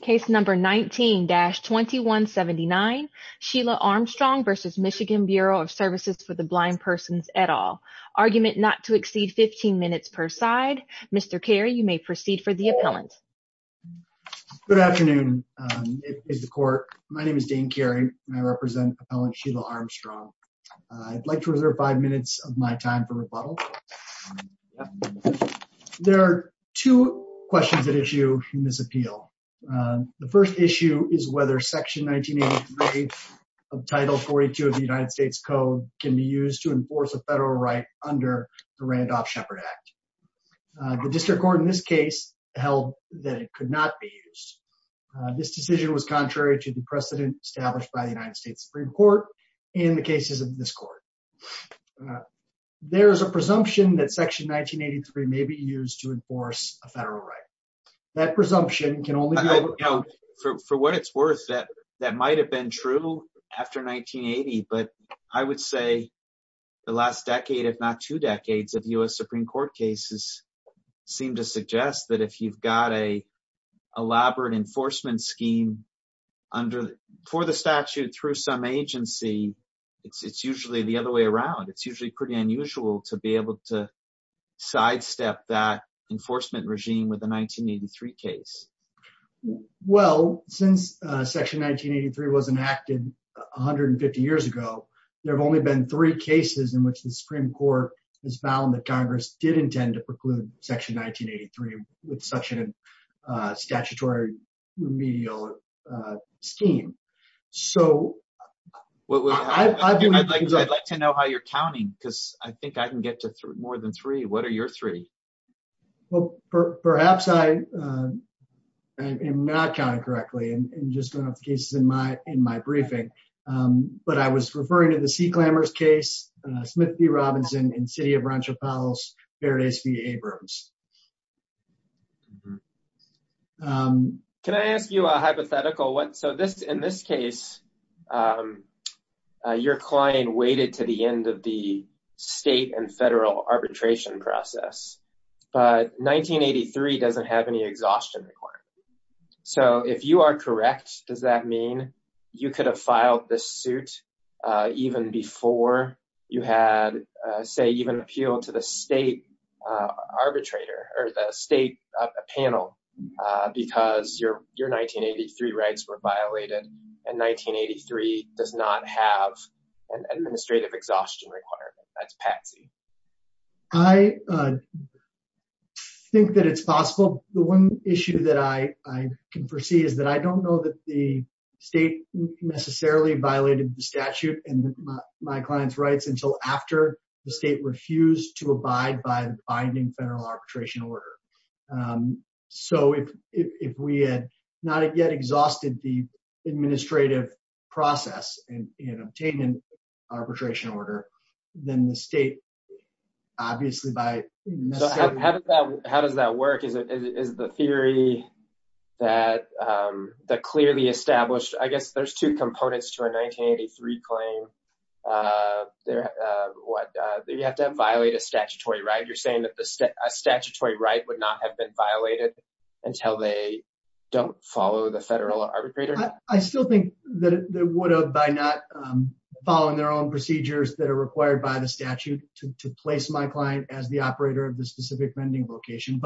Case number 19-2179, Sheila Armstrong v. Michigan Bureau of Services for the Blind Persons et al. Argument not to exceed 15 minutes per side. Mr. Carey, you may proceed for the appellant. Good afternoon. It is the court. My name is Dane Carey and I represent appellant Sheila Armstrong. I'd like to reserve five minutes of my time for rebuttal. There are two questions at issue in this appeal. The first issue is whether Section 1983 of Title 42 of the United States Code can be used to enforce a federal right under the Randolph-Shepard Act. The district court in this case held that it could not be used. This decision was contrary to the precedent established by the United States Supreme Court in the cases of this court. There is a presumption that Section 1983 may be used to enforce a federal right. That presumption can only be overcome. For what it's worth, that might have been true after 1980, but I would say the last decade, if not two decades, of U.S. Supreme Court cases seem to suggest that if you've got an elaborate enforcement scheme for the statute through some agency, it's usually the other way around. It's usually pretty unusual to be able to sidestep that enforcement regime with a 1983 case. Well, since Section 1983 was enacted 150 years ago, there have only been three cases in which the Supreme Court has found that Congress did intend to preclude Section 1983 with such a statutory remedial scheme. I'd like to know how you're counting, because I think I can get to more than three. What are your three? Well, perhaps I am not counting correctly. I'm just going off the cases in my briefing. But I was referring to the Sea Clambers case, Smith v. Robinson, and City of Rancho Palos v. Abrams. Can I ask you a hypothetical? In this case, your client waited to the end of the state and federal arbitration process, but 1983 doesn't have any exhaustion requirement. So if you are correct, does that mean you could have filed this suit even before you had, say, even appealed to the state arbitrator or the state panel because your 1983 rights were violated and 1983 does not have an administrative exhaustion requirement? That's patsy. I think that it's possible. Well, the one issue that I can foresee is that I don't know that the state necessarily violated the statute and my client's rights until after the state refused to abide by the binding federal arbitration order. So if we had not yet exhausted the administrative process in obtaining an arbitration order, then the state, obviously, by… How does that work? Is the theory that clearly established… I guess there's two components to a 1983 claim. You have to violate a statutory right. You're saying that a statutory right would not have been violated until they don't follow the federal arbitrator? I still think that it would have by not following their own procedures that are required by the statute to place my client as the operator of the specific vending location.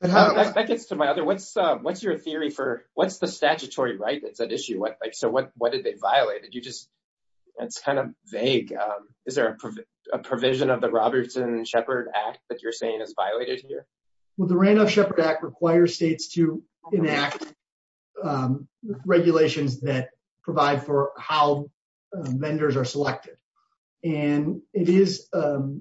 That gets to my other… What's your theory for what's the statutory right that's at issue? So what did they violate? It's kind of vague. Is there a provision of the Robertson-Shepard Act that you're saying is violated here? Well, the Randolph-Shepard Act requires states to enact regulations that provide for how vendors are selected. And it is a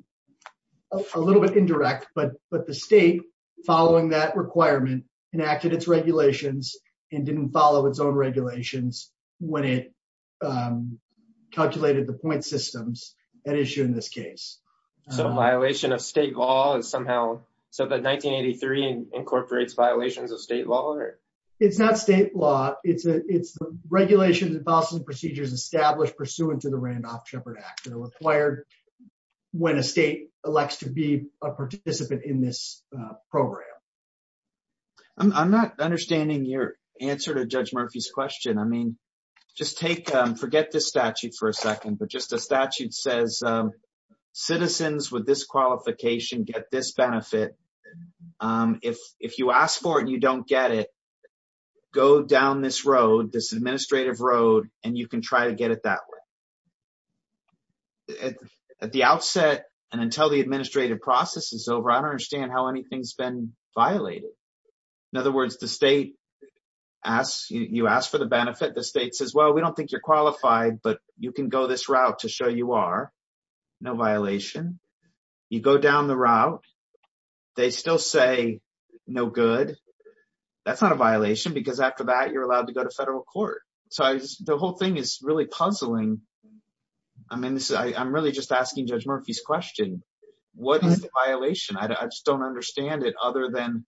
little bit indirect, but the state, following that requirement, enacted its regulations and didn't follow its own regulations when it calculated the point systems at issue in this case. So violation of state law is somehow… So the 1983 incorporates violations of state law? It's not state law. It's the regulations and policies and procedures established pursuant to the Randolph-Shepard Act that are required when a state elects to be a participant in this program. I'm not understanding your answer to Judge Murphy's question. I mean, just take… Forget this statute for a second, but just the statute says citizens with this qualification get this benefit. If you ask for it and you don't get it, go down this road, this administrative road, and you can try to get it that way. At the outset and until the administrative process is over, I don't understand how anything's been violated. In other words, the state asks… You ask for the benefit. The state says, well, we don't think you're qualified, but you can go this route to show you are. No violation. You go down the route. They still say no good. That's not a violation because after that, you're allowed to go to federal court. So the whole thing is really puzzling. I mean, I'm really just asking Judge Murphy's question. What is the violation? I just don't understand it other than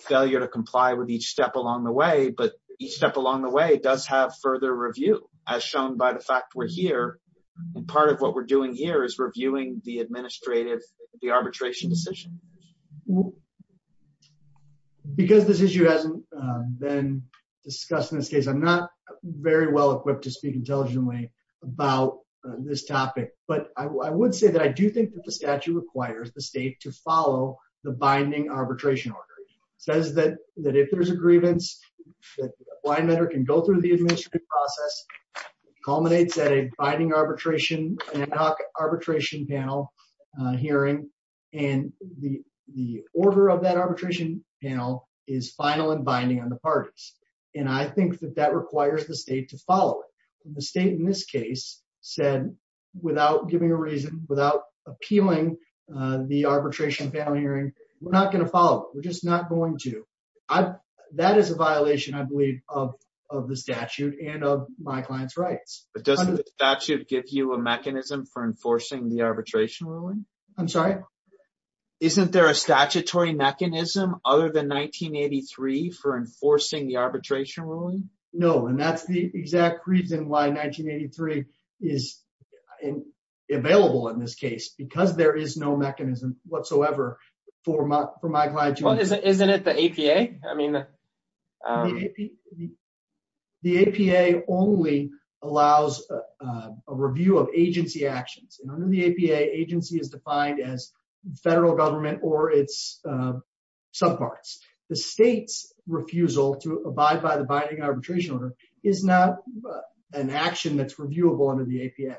failure to comply with each step along the way, but each step along the way does have further review as shown by the fact we're here. And part of what we're doing here is reviewing the administrative, the arbitration decision. Because this issue hasn't been discussed in this case, I'm not very well equipped to speak intelligently about this topic. But I would say that I do think that the statute requires the state to follow the binding arbitration order. The statute says that if there's a grievance, a blind matter can go through the administrative process, culminates at a binding arbitration, an ad hoc arbitration panel hearing, and the order of that arbitration panel is final and binding on the parties. And I think that that requires the state to follow it. The state in this case said, without giving a reason, without appealing the arbitration panel hearing, we're not going to follow it. We're just not going to. That is a violation, I believe, of the statute and of my client's rights. But doesn't the statute give you a mechanism for enforcing the arbitration ruling? I'm sorry? Isn't there a statutory mechanism other than 1983 for enforcing the arbitration ruling? No, and that's the exact reason why 1983 is available in this case, because there is no mechanism whatsoever for my client to enforce. Isn't it the APA? The APA only allows a review of agency actions. Under the APA, agency is defined as federal government or its subparts. The state's refusal to abide by the binding arbitration order is not an action that's reviewable under the APA.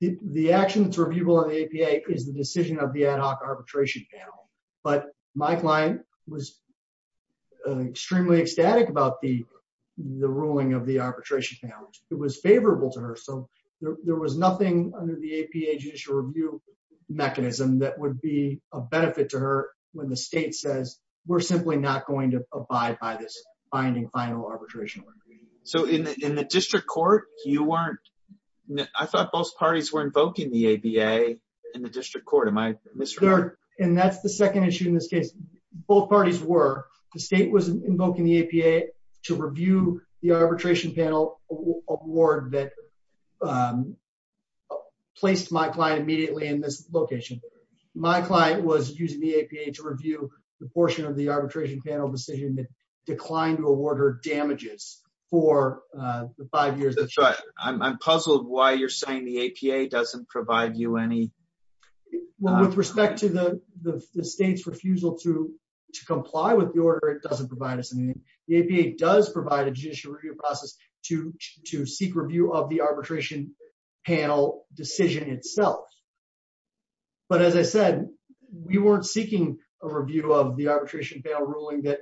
The action that's reviewable in the APA is the decision of the ad hoc arbitration panel. But my client was extremely ecstatic about the ruling of the arbitration panel. It was favorable to her. So there was nothing under the APA judicial review mechanism that would be a benefit to her when the state says we're simply not going to abide by this binding final arbitration order. So in the district court, I thought both parties were invoking the APA in the district court. And that's the second issue in this case. Both parties were. The state was invoking the APA to review the arbitration panel award that placed my client immediately in this location. My client was using the APA to review the portion of the arbitration panel decision that declined to award her damages for the five years. I'm puzzled why you're saying the APA doesn't provide you any... With respect to the state's refusal to comply with the order, it doesn't provide us anything. The APA does provide a judicial review process to seek review of the arbitration panel decision itself. But as I said, we weren't seeking a review of the arbitration panel ruling that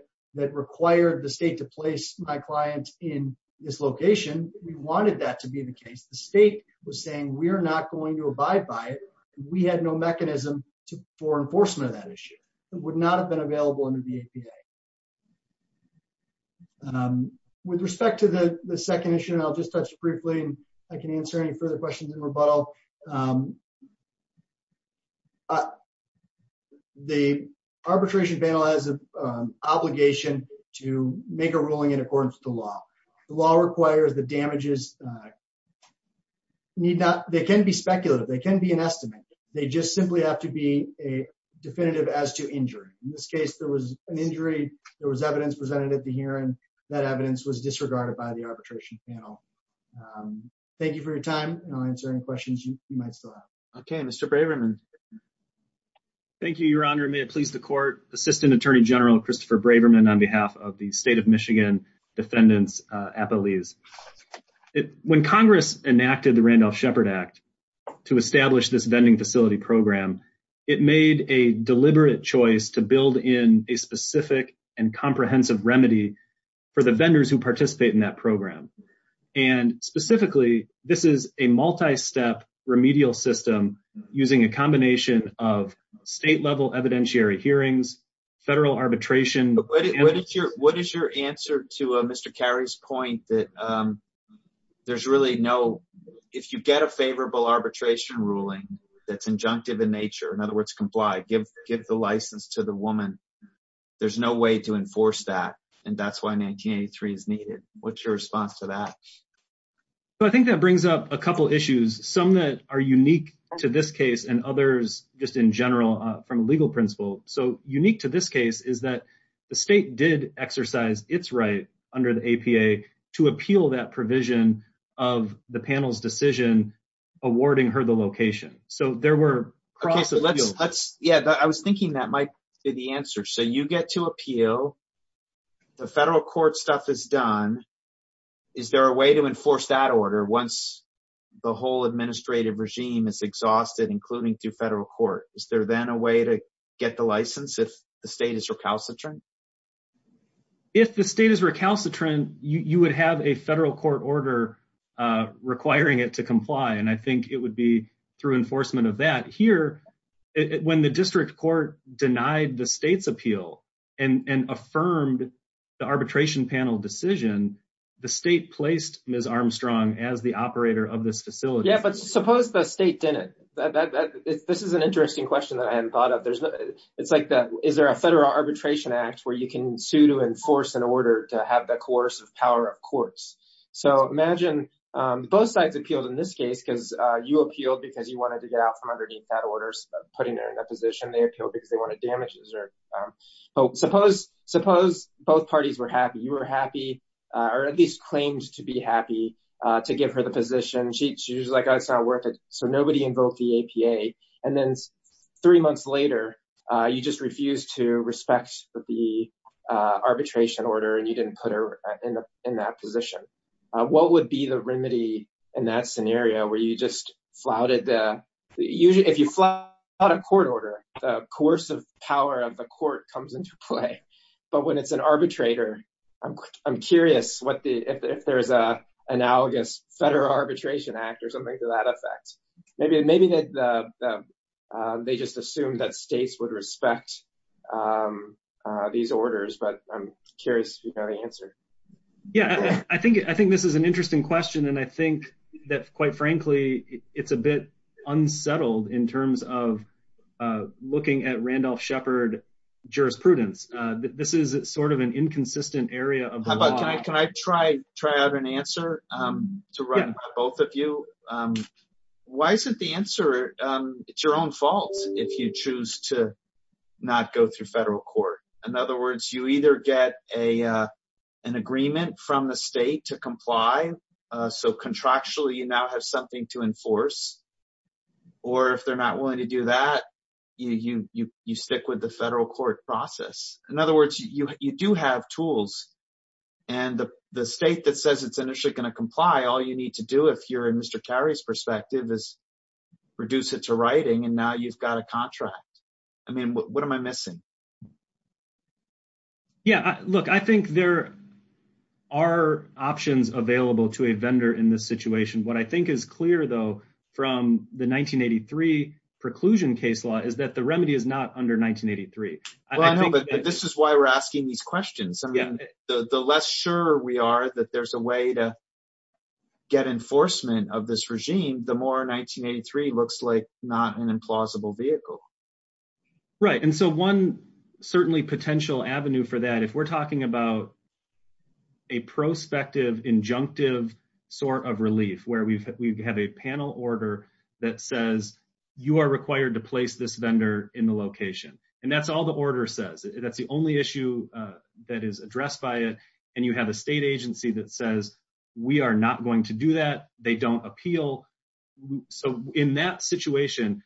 required the state to place my client in this location. We wanted that to be the case. The state was saying we're not going to abide by it. We had no mechanism for enforcement of that issue. It would not have been available under the APA. With respect to the second issue, and I'll just touch briefly and I can answer any further questions in rebuttal. The arbitration panel has an obligation to make a ruling in accordance with the law. The law requires the damages need not... They can be speculative. They can be an estimate. They just simply have to be definitive as to injury. In this case, there was an injury. There was evidence presented at the hearing. That evidence was disregarded by the arbitration panel. Thank you for your time. I'll answer any questions you might still have. Okay, Mr. Braverman. Thank you, Your Honor. May it please the court. Assistant Attorney General Christopher Braverman on behalf of the State of Michigan Defendants, APA Lease. When Congress enacted the Randolph-Shepard Act to establish this vending facility program, it made a deliberate choice to build in a specific and comprehensive remedy for the vendors who participate in that program. And specifically, this is a multi-step remedial system using a combination of state-level evidentiary hearings, federal arbitration... What is your answer to Mr. Carey's point that there's really no... If you get a favorable arbitration ruling that's injunctive in nature, in other words, comply, give the license to the woman, there's no way to enforce that. And that's why 1983 is needed. What's your response to that? Well, I think that brings up a couple issues, some that are unique to this case and others just in general from a legal principle. So unique to this case is that the state did exercise its right under the APA to appeal that provision of the panel's decision awarding her the location. So there were... Yeah, I was thinking that might be the answer. So you get to appeal, the federal court stuff is done. Is there a way to enforce that order once the whole administrative regime is exhausted, including through federal court? Is there then a way to get the license if the state is recalcitrant? If the state is recalcitrant, you would have a federal court order requiring it to comply. And I think it would be through enforcement of that. When the district court denied the state's appeal and affirmed the arbitration panel decision, the state placed Ms. Armstrong as the operator of this facility. Yeah, but suppose the state didn't. This is an interesting question that I hadn't thought of. It's like, is there a federal arbitration act where you can sue to enforce an order to have the coercive power of courts? So imagine both sides appealed in this case because you appealed because you wanted to get out from underneath that order, putting her in that position. They appealed because they wanted damages. Suppose both parties were happy. You were happy or at least claimed to be happy to give her the position. She's like, oh, it's not worth it. So nobody invoked the APA. And then three months later, you just refused to respect the arbitration order and you didn't put her in that position. What would be the remedy in that scenario where you just flouted? If you flout a court order, the coercive power of the court comes into play. But when it's an arbitrator, I'm curious if there is an analogous federal arbitration act or something to that effect. Maybe they just assumed that states would respect these orders. But I'm curious to know the answer. Yeah, I think I think this is an interesting question. And I think that, quite frankly, it's a bit unsettled in terms of looking at Randolph Shepard jurisprudence. This is sort of an inconsistent area. But can I can I try try out an answer to run both of you? Why isn't the answer? It's your own fault if you choose to not go through federal court. In other words, you either get a an agreement from the state to comply. So contractually, you now have something to enforce. Or if they're not willing to do that, you you you stick with the federal court process. In other words, you do have tools and the state that says it's initially going to comply. All you need to do if you're in Mr. Terry's perspective is reduce it to writing. And now you've got a contract. I mean, what am I missing? Yeah, look, I think there are options available to a vendor in this situation. What I think is clear, though, from the 1983 preclusion case law is that the remedy is not under 1983. I know, but this is why we're asking these questions. I mean, the less sure we are that there's a way to get enforcement of this regime, the more 1983 looks like not an implausible vehicle. Right. And so one certainly potential avenue for that, if we're talking about. A prospective injunctive sort of relief where we have a panel order that says you are required to place this vendor in the location. And that's all the order says. That's the only issue that is addressed by it. And you have a state agency that says we are not going to do that. They don't appeal. So in that situation,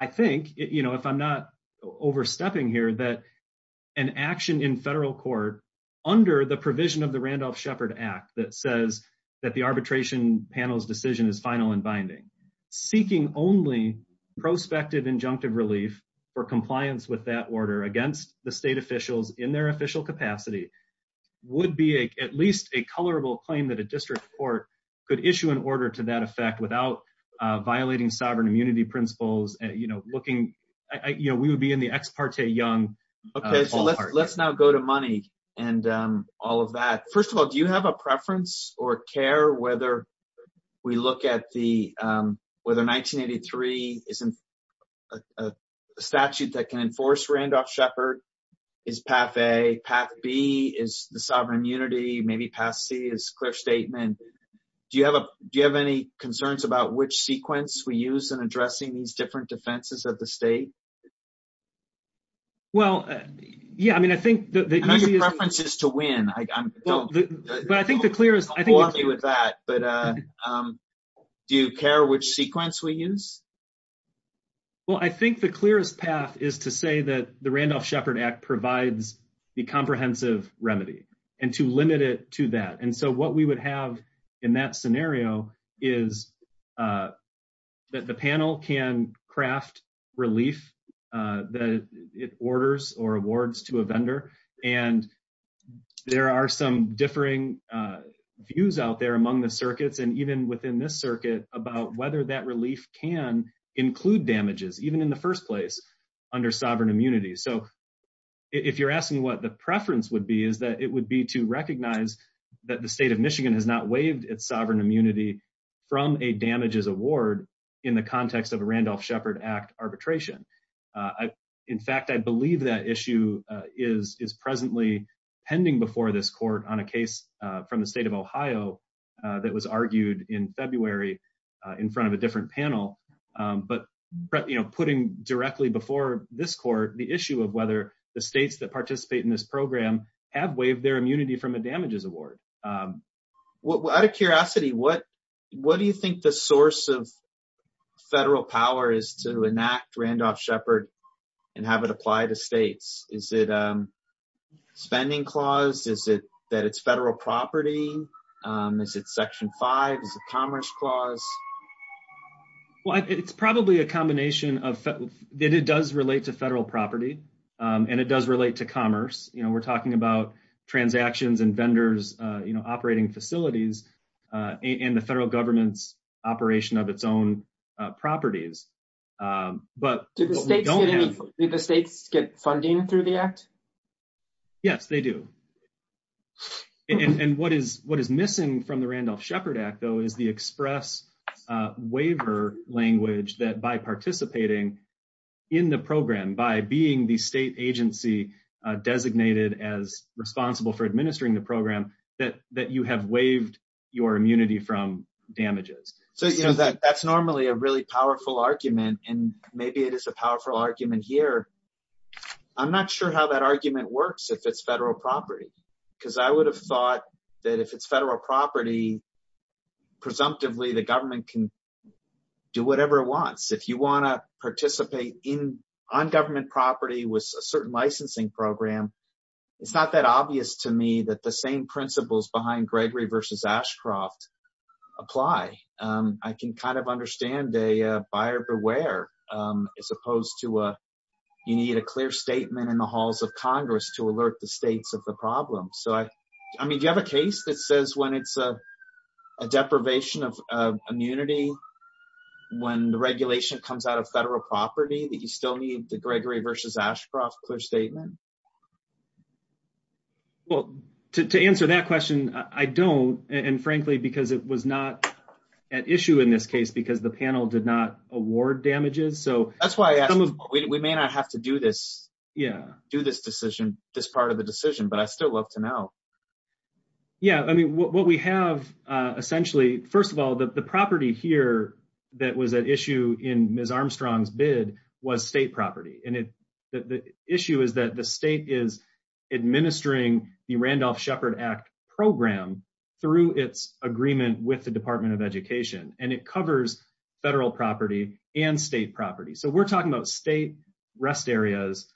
I think, you know, if I'm not overstepping here, that an action in federal court under the provision of the Randolph Shepard Act that says that the arbitration panel's decision is final and binding. Seeking only prospective injunctive relief for compliance with that order against the state officials in their official capacity would be at least a colorable claim that a district court could issue an order to that effect without violating sovereign immunity principles. You know, we would be in the ex parte young. Let's now go to money and all of that. First of all, do you have a preference or care whether we look at the whether 1983 isn't a statute that can enforce Randolph Shepard? Do you have any concerns about which sequence we use in addressing these different defenses of the state? Well, yeah, I mean, I think the preference is to win. But I think the clear is I think with that, but do you care which sequence we use? Well, I think the clearest path is to say that the Randolph Shepard Act provides the comprehensive remedy and to limit it to that. And so what we would have in that scenario is that the panel can craft relief that it orders or awards to a vendor. And there are some differing views out there among the circuits and even within this circuit about whether that relief can include damages, even in the first place under sovereign immunity. So if you're asking what the preference would be, is that it would be to recognize that the state of Michigan has not waived its sovereign immunity from a damages award in the context of a Randolph Shepard Act arbitration. In fact, I believe that issue is is presently pending before this court on a case from the state of Ohio that was argued in February in front of a different panel. But, you know, putting directly before this court the issue of whether the states that participate in this program have waived their immunity from a damages award. Out of curiosity, what do you think the source of federal power is to enact Randolph Shepard and have it apply to states? Is it a spending clause? Is it that it's federal property? Is it Section 5? Is it a commerce clause? Well, it's probably a combination of that it does relate to federal property, and it does relate to commerce. You know, we're talking about transactions and vendors, you know, operating facilities and the federal government's operation of its own properties. But did the states get funding through the act? Yes, they do. And what is what is missing from the Randolph Shepard Act, though, is the express waiver language that by participating in the program by being the state agency designated as responsible for administering the program that that you have waived your immunity from damages. So, you know, that that's normally a really powerful argument and maybe it is a powerful argument here. I'm not sure how that argument works if it's federal property, because I would have thought that if it's federal property, presumptively, the government can do whatever it wants. If you want to participate in on government property with a certain licensing program, it's not that obvious to me that the same principles behind Gregory versus Ashcroft apply. I can kind of understand a buyer beware, as opposed to you need a clear statement in the halls of Congress to alert the states of the problem. So, I mean, you have a case that says when it's a deprivation of immunity, when the regulation comes out of federal property, that you still need the Gregory versus Ashcroft clear statement. Well, to answer that question, I don't. And frankly, because it was not at issue in this case because the panel did not award damages. So, that's why we may not have to do this. Yeah, do this decision, this part of the decision, but I still love to know. Yeah, I mean, what we have, essentially, first of all, the property here that was an issue in Ms. Armstrong's bid was state property. And the issue is that the state is administering the Randolph Shepard Act program through its agreement with the Department of Education, and it covers federal property and state property. So, we're talking about state rest areas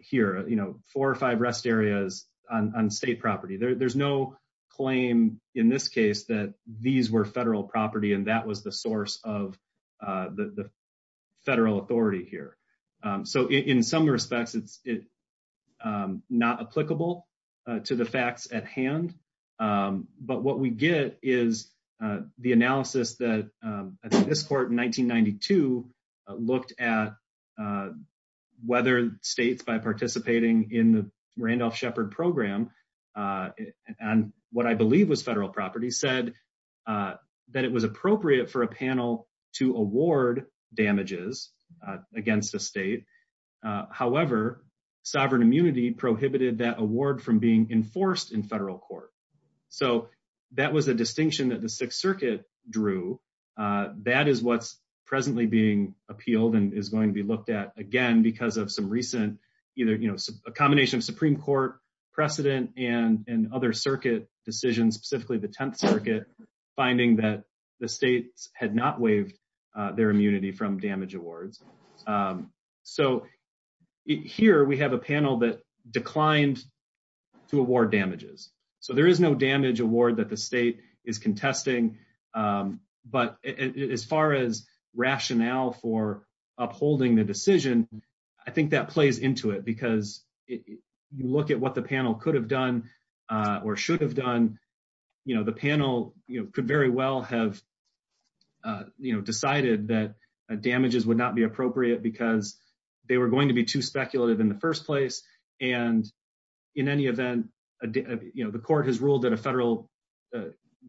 here, you know, four or five rest areas on state property. There's no claim in this case that these were federal property and that was the source of the federal authority here. So, in some respects, it's not applicable to the facts at hand. But what we get is the analysis that this court in 1992 looked at whether states, by participating in the Randolph Shepard program, and what I believe was federal property, said that it was appropriate for a panel to award damages against a state. However, sovereign immunity prohibited that award from being enforced in federal court. So, that was a distinction that the Sixth Circuit drew. That is what's presently being appealed and is going to be looked at again because of some recent, either, you know, a combination of Supreme Court precedent and other circuit decisions, specifically the Tenth Circuit, finding that the states had not waived their immunity from damage awards. So, here we have a panel that declined to award damages. So, there is no damage award that the state is contesting. But as far as rationale for upholding the decision, I think that plays into it because you look at what the panel could have done or should have done, you know, the panel could very well have, you know, decided that damages would not be appropriate because they were going to be too speculative in the first place. And in any event, you know, the court has ruled that a federal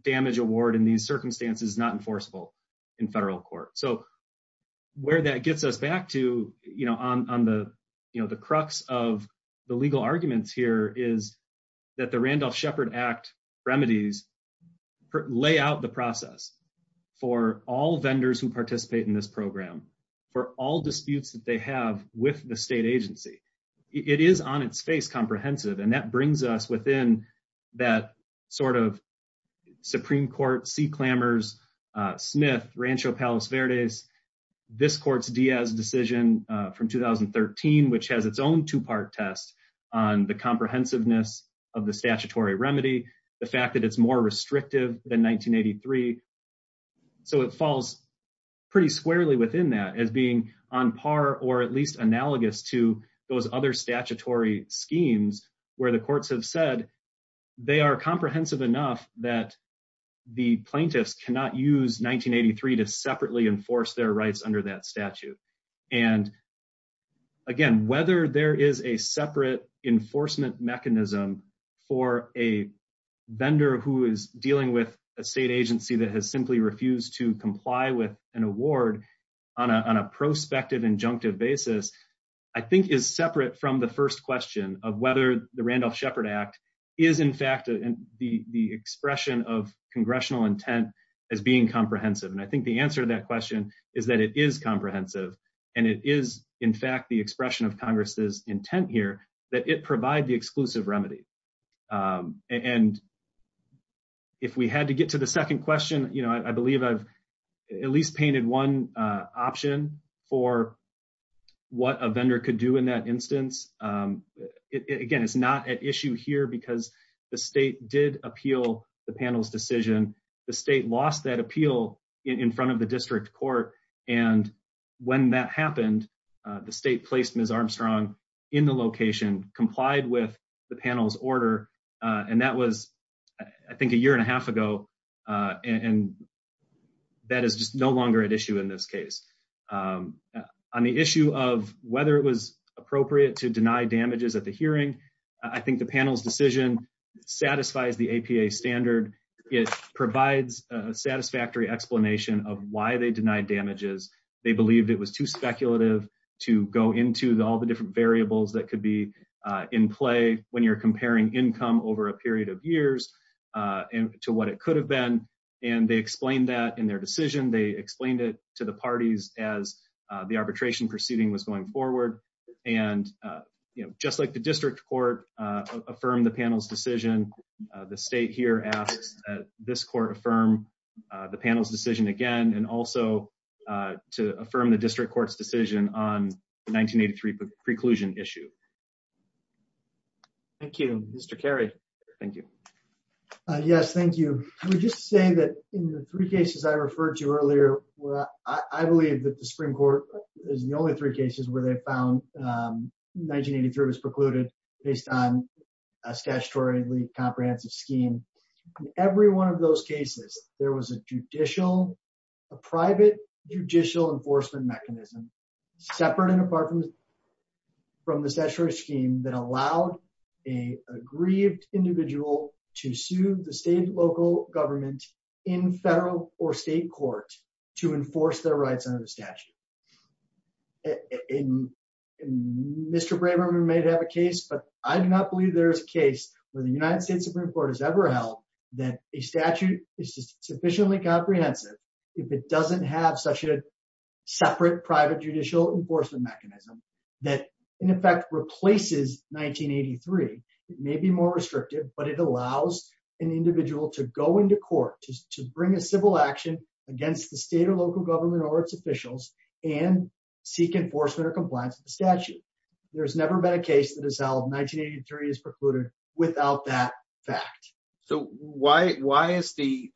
damage award in these circumstances is not enforceable in federal court. So, where that gets us back to, you know, on the, you know, the crux of the legal arguments here is that the Randolph-Shepard Act remedies lay out the process for all vendors who participate in this program, for all disputes that they have with the state agency. It is on its face comprehensive, and that brings us within that sort of Supreme Court sea clamors, Smith-Rancho Palos Verdes, this court's Diaz decision from 2013, which has its own two-part test on the comprehensiveness of the statutory remedy, the fact that it's more restrictive than 1983. So, it falls pretty squarely within that as being on par or at least analogous to those other statutory schemes where the courts have said they are comprehensive enough that the plaintiffs cannot use 1983 to separately enforce their rights under that statute. And, again, whether there is a separate enforcement mechanism for a vendor who is dealing with a state agency that has simply refused to comply with an award on a prospective injunctive basis, I think is separate from the first question of whether the Randolph-Shepard Act is, in fact, the expression of congressional intent as being comprehensive. And I think the answer to that question is that it is comprehensive, and it is, in fact, the expression of Congress's intent here that it provide the exclusive remedy. And if we had to get to the second question, I believe I've at least painted one option for what a vendor could do in that instance. Again, it's not at issue here because the state did appeal the panel's decision. The state lost that appeal in front of the district court, and when that happened, the state placed Ms. Armstrong in the location, complied with the panel's order, and that was, I think, a year and a half ago, and that is just no longer at issue in this case. On the issue of whether it was appropriate to deny damages at the hearing, I think the panel's decision satisfies the APA standard. It provides a satisfactory explanation of why they denied damages. They believed it was too speculative to go into all the different variables that could be in play when you're comparing income over a period of years to what it could have been. And they explained that in their decision. They explained it to the parties as the arbitration proceeding was going forward. And, you know, just like the district court affirmed the panel's decision, the state here asks that this court affirm the panel's decision again and also to affirm the district court's decision on the 1983 preclusion issue. Thank you. Mr. Cary, thank you. Yes, thank you. I would just say that in the three cases I referred to earlier, I believe that the Supreme Court is the only three cases where they found 1983 was precluded based on a statutorily comprehensive scheme. In every one of those cases, there was a judicial, a private judicial enforcement mechanism separate and apart from the statutory scheme that allowed an aggrieved individual to sue the state and local government in federal or state court to enforce their rights under the statute. Mr. Braverman may have a case, but I do not believe there is a case where the United States Supreme Court has ever held that a statute is sufficiently comprehensive if it doesn't have such a separate private judicial enforcement mechanism that in effect replaces 1983. It may be more restrictive, but it allows an individual to go into court to bring a civil action against the state or local government or its officials and seek enforcement or compliance with the statute. There's never been a case that has held 1983 is precluded without that fact. So why is the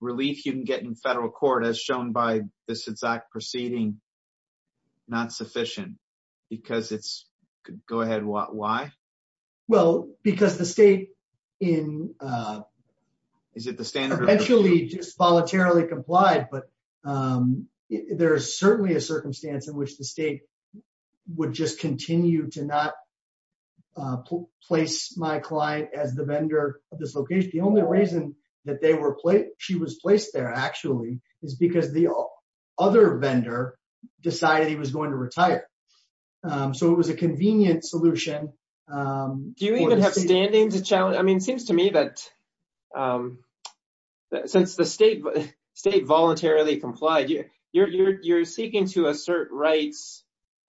relief you can get in federal court as shown by this exact proceeding not sufficient? Because it's, go ahead, why? Well, because the state in, is it the standard eventually just voluntarily complied, but there's certainly a circumstance in which the state would just continue to not place my client as the vendor of this location. The only reason that they were placed, she was placed there actually is because the other vendor decided he was going to retire. So it was a convenient solution. Do you even have standing to challenge? I mean, it seems to me that since the state voluntarily complied, you're seeking to assert rights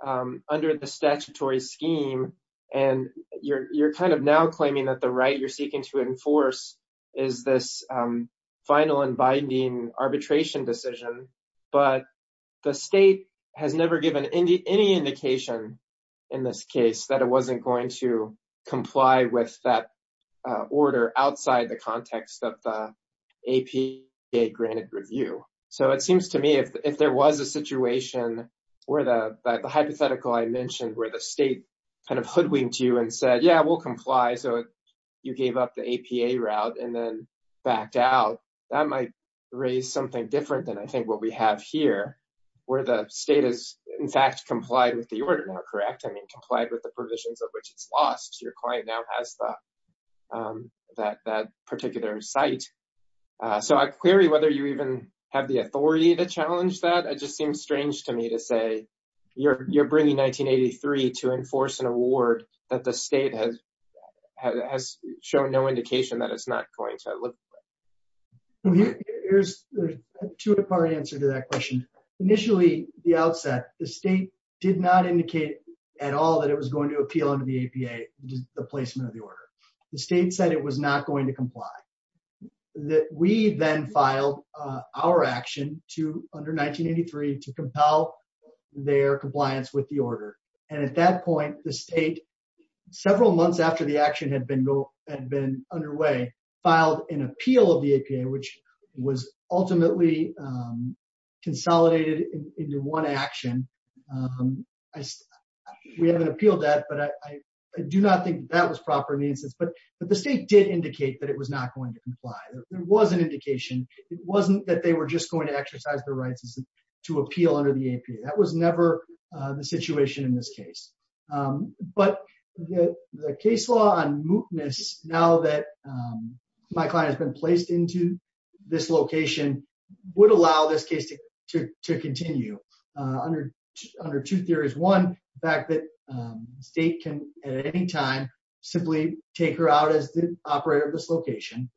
under the statutory scheme. And you're kind of now claiming that the right you're seeking to enforce is this final and binding arbitration decision. But the state has never given any indication in this case that it wasn't going to comply with that order outside the context of the APA granted review. So it seems to me if there was a situation where the hypothetical I mentioned where the state kind of hoodwinked you and said, yeah, we'll comply. So you gave up the APA route and then backed out. That might raise something different than I think what we have here, where the state is, in fact, complied with the order now, correct? I mean, complied with the provisions of which it's lost. Your client now has that particular site. So I query whether you even have the authority to challenge that. It just seems strange to me to say you're bringing 1983 to enforce an award that the state has shown no indication that it's not going to look. Here's a two part answer to that question. Initially, the outset, the state did not indicate at all that it was going to appeal under the APA, the placement of the order. The state said it was not going to comply that we then filed our action to under 1983 to compel their compliance with the order. And at that point, the state, several months after the action had been had been underway, filed an appeal of the APA, which was ultimately consolidated into one action. We haven't appealed that, but I do not think that was proper in the instance. But the state did indicate that it was not going to comply. There was an indication. It wasn't that they were just going to exercise their rights to appeal under the APA. That was never the situation in this case. But the case law on mootness now that my client has been placed into this location would allow this case to continue under two theories. One, the fact that the state can at any time simply take her out as the operator of this location.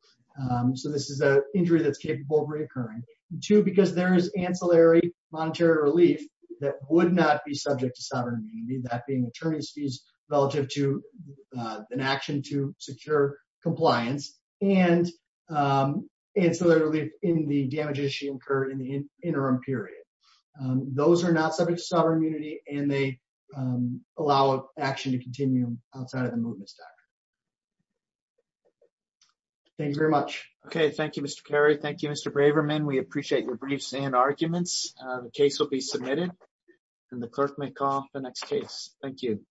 So this is an injury that's capable of reoccurring. Two, because there is ancillary monetary relief that would not be subject to sovereign immunity, that being attorney's fees relative to an action to secure compliance and ancillary relief in the damage issue incurred in the interim period. Those are not subject to sovereign immunity and they allow action to continue outside of the mootness doctrine. Thank you very much. Okay. Thank you, Mr. Kerry. Thank you, Mr. Braverman. We appreciate your briefs and arguments. The case will be submitted and the clerk may call the next case. Thank you.